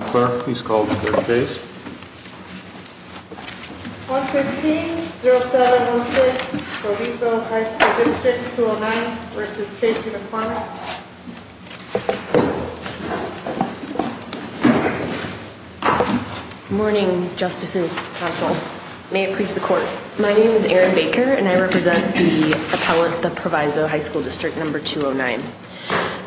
Clare, please call the third case. 115-0706, Proviso High School District 209 v. Casey McCormick. Good morning, Justice and counsel. May it please the Court. My name is Erin Baker, and I represent the appellant, the Proviso High School District No. 209.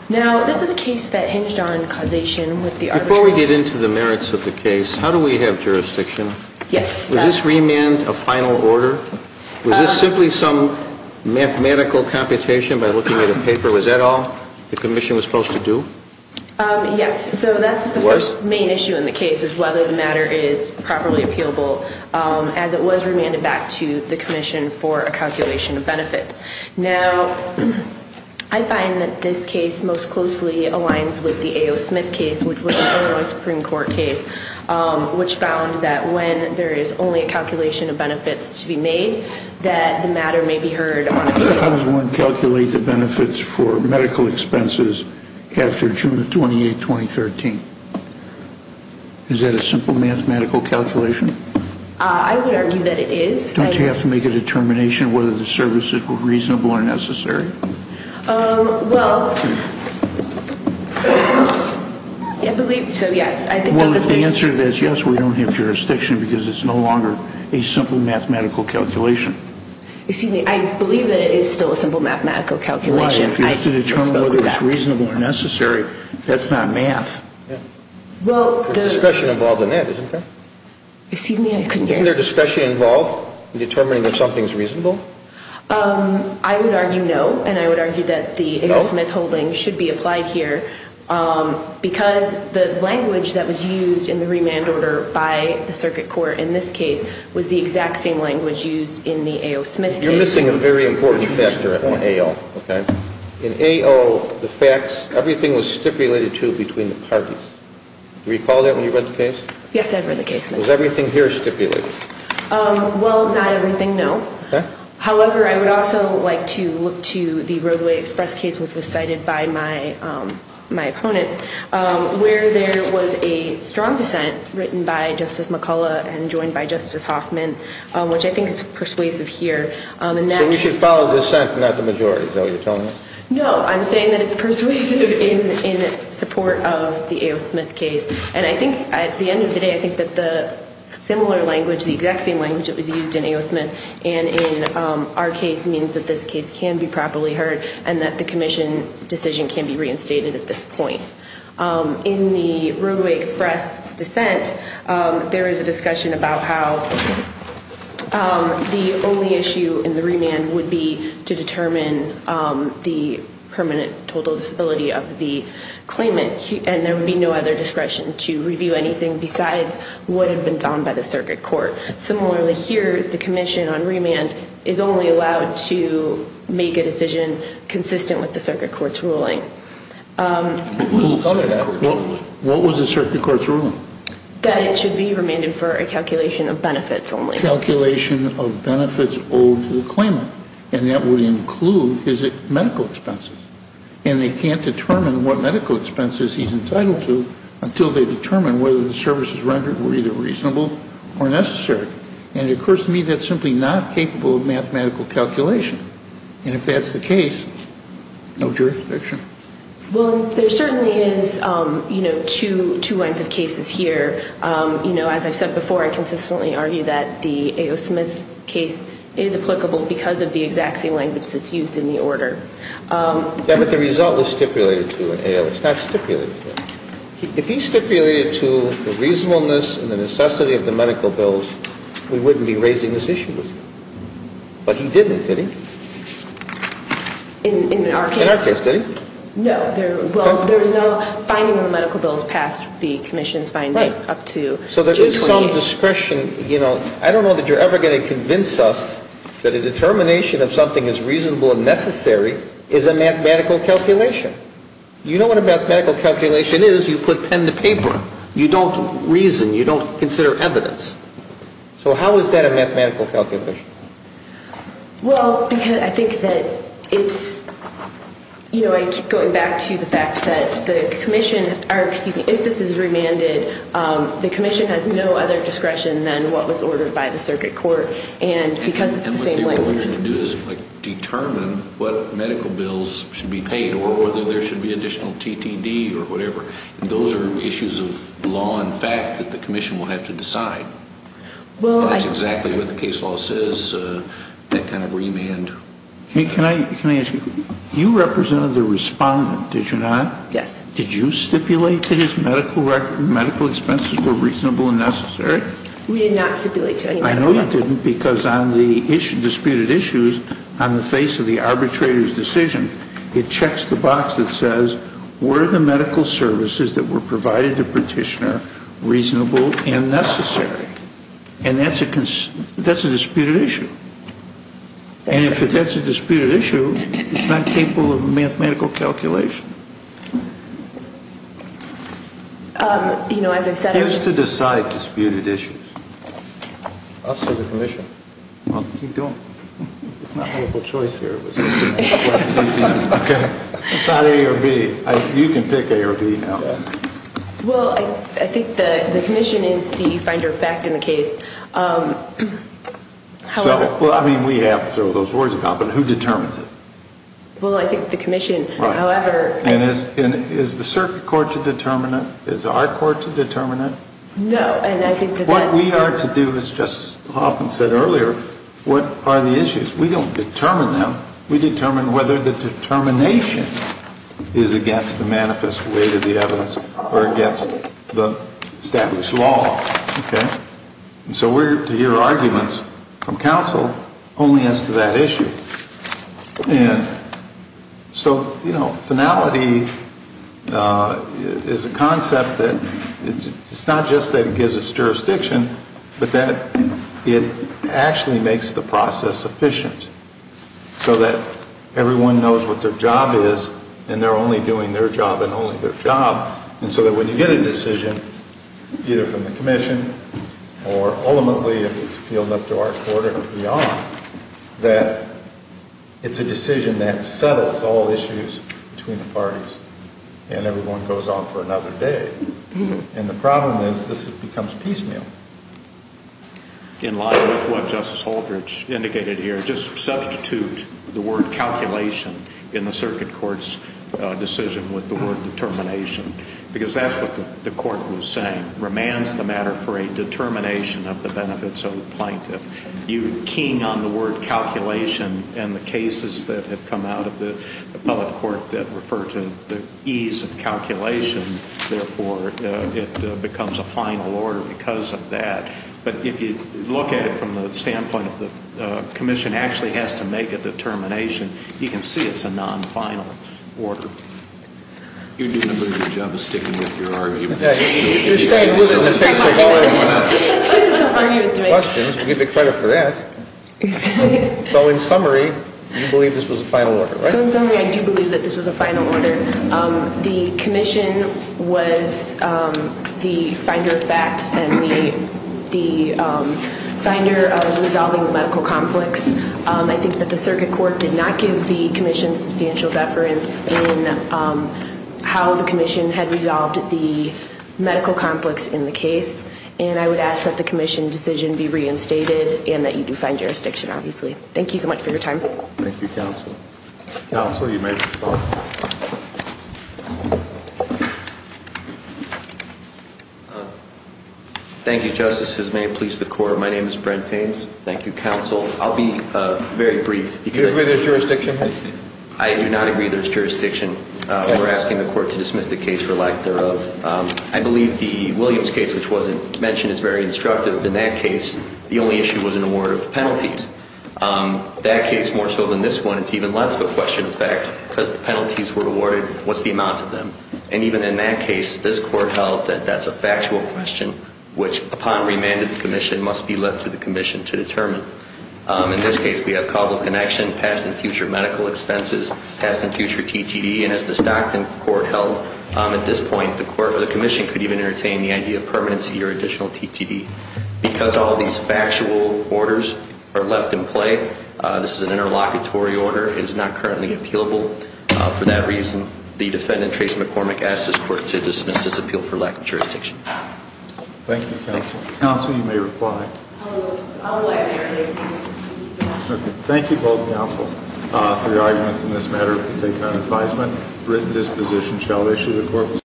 Now, this is a case that hinged on causation with the arbitrary... Before we get into the merits of the case, how do we have jurisdiction? Yes. Was this remand a final order? Was this simply some mathematical computation by looking at a paper? Was that all the commission was supposed to do? Yes, so that's the first main issue in the case, is whether the matter is properly appealable, Now, I find that this case most closely aligns with the A.O. Smith case, which was an Illinois Supreme Court case, which found that when there is only a calculation of benefits to be made, that the matter may be heard on... How does one calculate the benefits for medical expenses after June 28, 2013? Is that a simple mathematical calculation? I would argue that it is. Don't you have to make a determination whether the services were reasonable or necessary? Well, I believe so, yes. Well, if the answer is yes, we don't have jurisdiction because it's no longer a simple mathematical calculation. Excuse me, I believe that it is still a simple mathematical calculation. Well, if you have to determine whether it's reasonable or necessary, that's not math. There's discussion involved in that, isn't there? Excuse me, I couldn't hear you. There's discussion involved in determining if something's reasonable? I would argue no, and I would argue that the A.O. Smith holding should be applied here because the language that was used in the remand order by the circuit court in this case was the exact same language used in the A.O. Smith case. You're missing a very important factor in A.O., okay? In A.O., the facts, everything was stipulated to between the parties. Do you recall that when you read the case? Yes, I read the case. Was everything here stipulated? Well, not everything, no. Okay. However, I would also like to look to the Roadway Express case, which was cited by my opponent, where there was a strong dissent written by Justice McCullough and joined by Justice Hoffman, which I think is persuasive here. So we should follow dissent, not the majority, is that what you're telling me? No, I'm saying that it's persuasive in support of the A.O. Smith case. And I think at the end of the day, I think that the similar language, the exact same language that was used in A.O. Smith and in our case means that this case can be properly heard and that the commission decision can be reinstated at this point. In the Roadway Express dissent, there is a discussion about how the only issue in the remand would be to determine the permanent total disability of the claimant, and there would be no other discretion to review anything besides what had been done by the circuit court. Similarly here, the commission on remand is only allowed to make a decision consistent with the circuit court's ruling. What was the circuit court's ruling? That it should be remanded for a calculation of benefits only. And that would include his medical expenses. And they can't determine what medical expenses he's entitled to until they determine whether the services rendered were either reasonable or necessary. And it occurs to me that's simply not capable of mathematical calculation. And if that's the case, no jurisdiction. Well, there certainly is, you know, two lines of cases here. You know, as I've said before, I consistently argue that the A.O. Smith case is applicable because of the exact same language that's used in the order. Yeah, but the result was stipulated to in A.O. It's not stipulated. If he stipulated to the reasonableness and the necessity of the medical bills, we wouldn't be raising this issue with him. But he didn't, did he? In our case. In our case, did he? No. Well, there's no finding of the medical bills past the commission's finding up to June 28th. So there is some discretion, you know. I don't know that you're ever going to convince us that a determination of something is reasonable and necessary is a mathematical calculation. You know what a mathematical calculation is. You put pen to paper. You don't reason. You don't consider evidence. So how is that a mathematical calculation? Well, because I think that it's, you know, I keep going back to the fact that the commission, or excuse me, if this is remanded, the commission has no other discretion than what was ordered by the circuit court. And because of the same language. And what they were ordering to do is determine what medical bills should be paid or whether there should be additional T.T.D. or whatever. Those are issues of law and fact that the commission will have to decide. That's exactly what the case law says, that kind of remand. Can I ask you, you represented the respondent, did you not? Yes. Did you stipulate that his medical expenses were reasonable and necessary? We did not stipulate to anyone. I know you didn't because on the disputed issues, on the face of the arbitrator's decision, it checks the box that says were the medical services that were provided to petitioner reasonable and necessary? And that's a disputed issue. And if that's a disputed issue, it's not capable of a mathematical calculation. You know, as I've said. Who's to decide disputed issues? Us as a commission. Well, you don't. It's not a choice here. It's not A or B. You can pick A or B now. Well, I think the commission is the finder of fact in the case. Well, I mean, we have to throw those words about, but who determines it? Well, I think the commission, however. And is the circuit court to determine it? Is our court to determine it? No. What we are to do, as Justice Hoffman said earlier, what are the issues? We don't determine them. We determine whether the determination is against the manifest weight of the evidence or against the established law. And so we're to hear arguments from counsel only as to that issue. And so, you know, finality is a concept that it's not just that it gives us jurisdiction, but that it actually makes the process efficient. So that everyone knows what their job is and they're only doing their job and only their job. And so that when you get a decision, either from the commission or ultimately if it's appealed up to our court or beyond, that it's a decision that settles all issues between the parties and everyone goes on for another day. And the problem is this becomes piecemeal. In line with what Justice Holdridge indicated here, just substitute the word calculation in the circuit court's decision with the word determination. Because that's what the court was saying. Remands the matter for a determination of the benefits of the plaintiff. You keying on the word calculation and the cases that have come out of the public court that refer to the ease of calculation, therefore it becomes a final order because of that. But if you look at it from the standpoint of the commission actually has to make a determination, you can see it's a non-final order. You're doing a good job of sticking with your argument. You're staying with it. Questions. You get the credit for that. So in summary, you believe this was a final order, right? So in summary, I do believe that this was a final order. The commission was the finder of facts and the finder of resolving the medical conflicts. I think that the circuit court did not give the commission substantial deference in how the commission had resolved the medical conflicts in the case. And I would ask that the commission decision be reinstated and that you do find jurisdiction, obviously. Thank you so much for your time. Thank you, counsel. Counsel, you may respond. Thank you, Justice. As may it please the court, my name is Brent Taines. Thank you, counsel. I'll be very brief. Do you agree there's jurisdiction? I do not agree there's jurisdiction. We're asking the court to dismiss the case for lack thereof. I believe the Williams case, which wasn't mentioned, is very instructive. In that case, the only issue was an award of penalties. That case more so than this one, it's even less of a question of facts because the penalties were awarded. What's the amount of them? And even in that case, this court held that that's a factual question, which upon remand of the commission must be left to the commission to determine. In this case, we have causal connection, past and future medical expenses, past and future TTD. And as the Stockton court held at this point, the commission could even entertain the idea of permanency or additional TTD because all of these factual orders are left in play. This is an interlocutory order. It is not currently appealable. For that reason, the defendant, Trace McCormick, asks this court to dismiss this appeal for lack of jurisdiction. Thank you, counsel. Counsel, you may reply. I'll go ahead. Thank you both, counsel, for your arguments in this matter. We'll take it on advisement. Written disposition shall issue.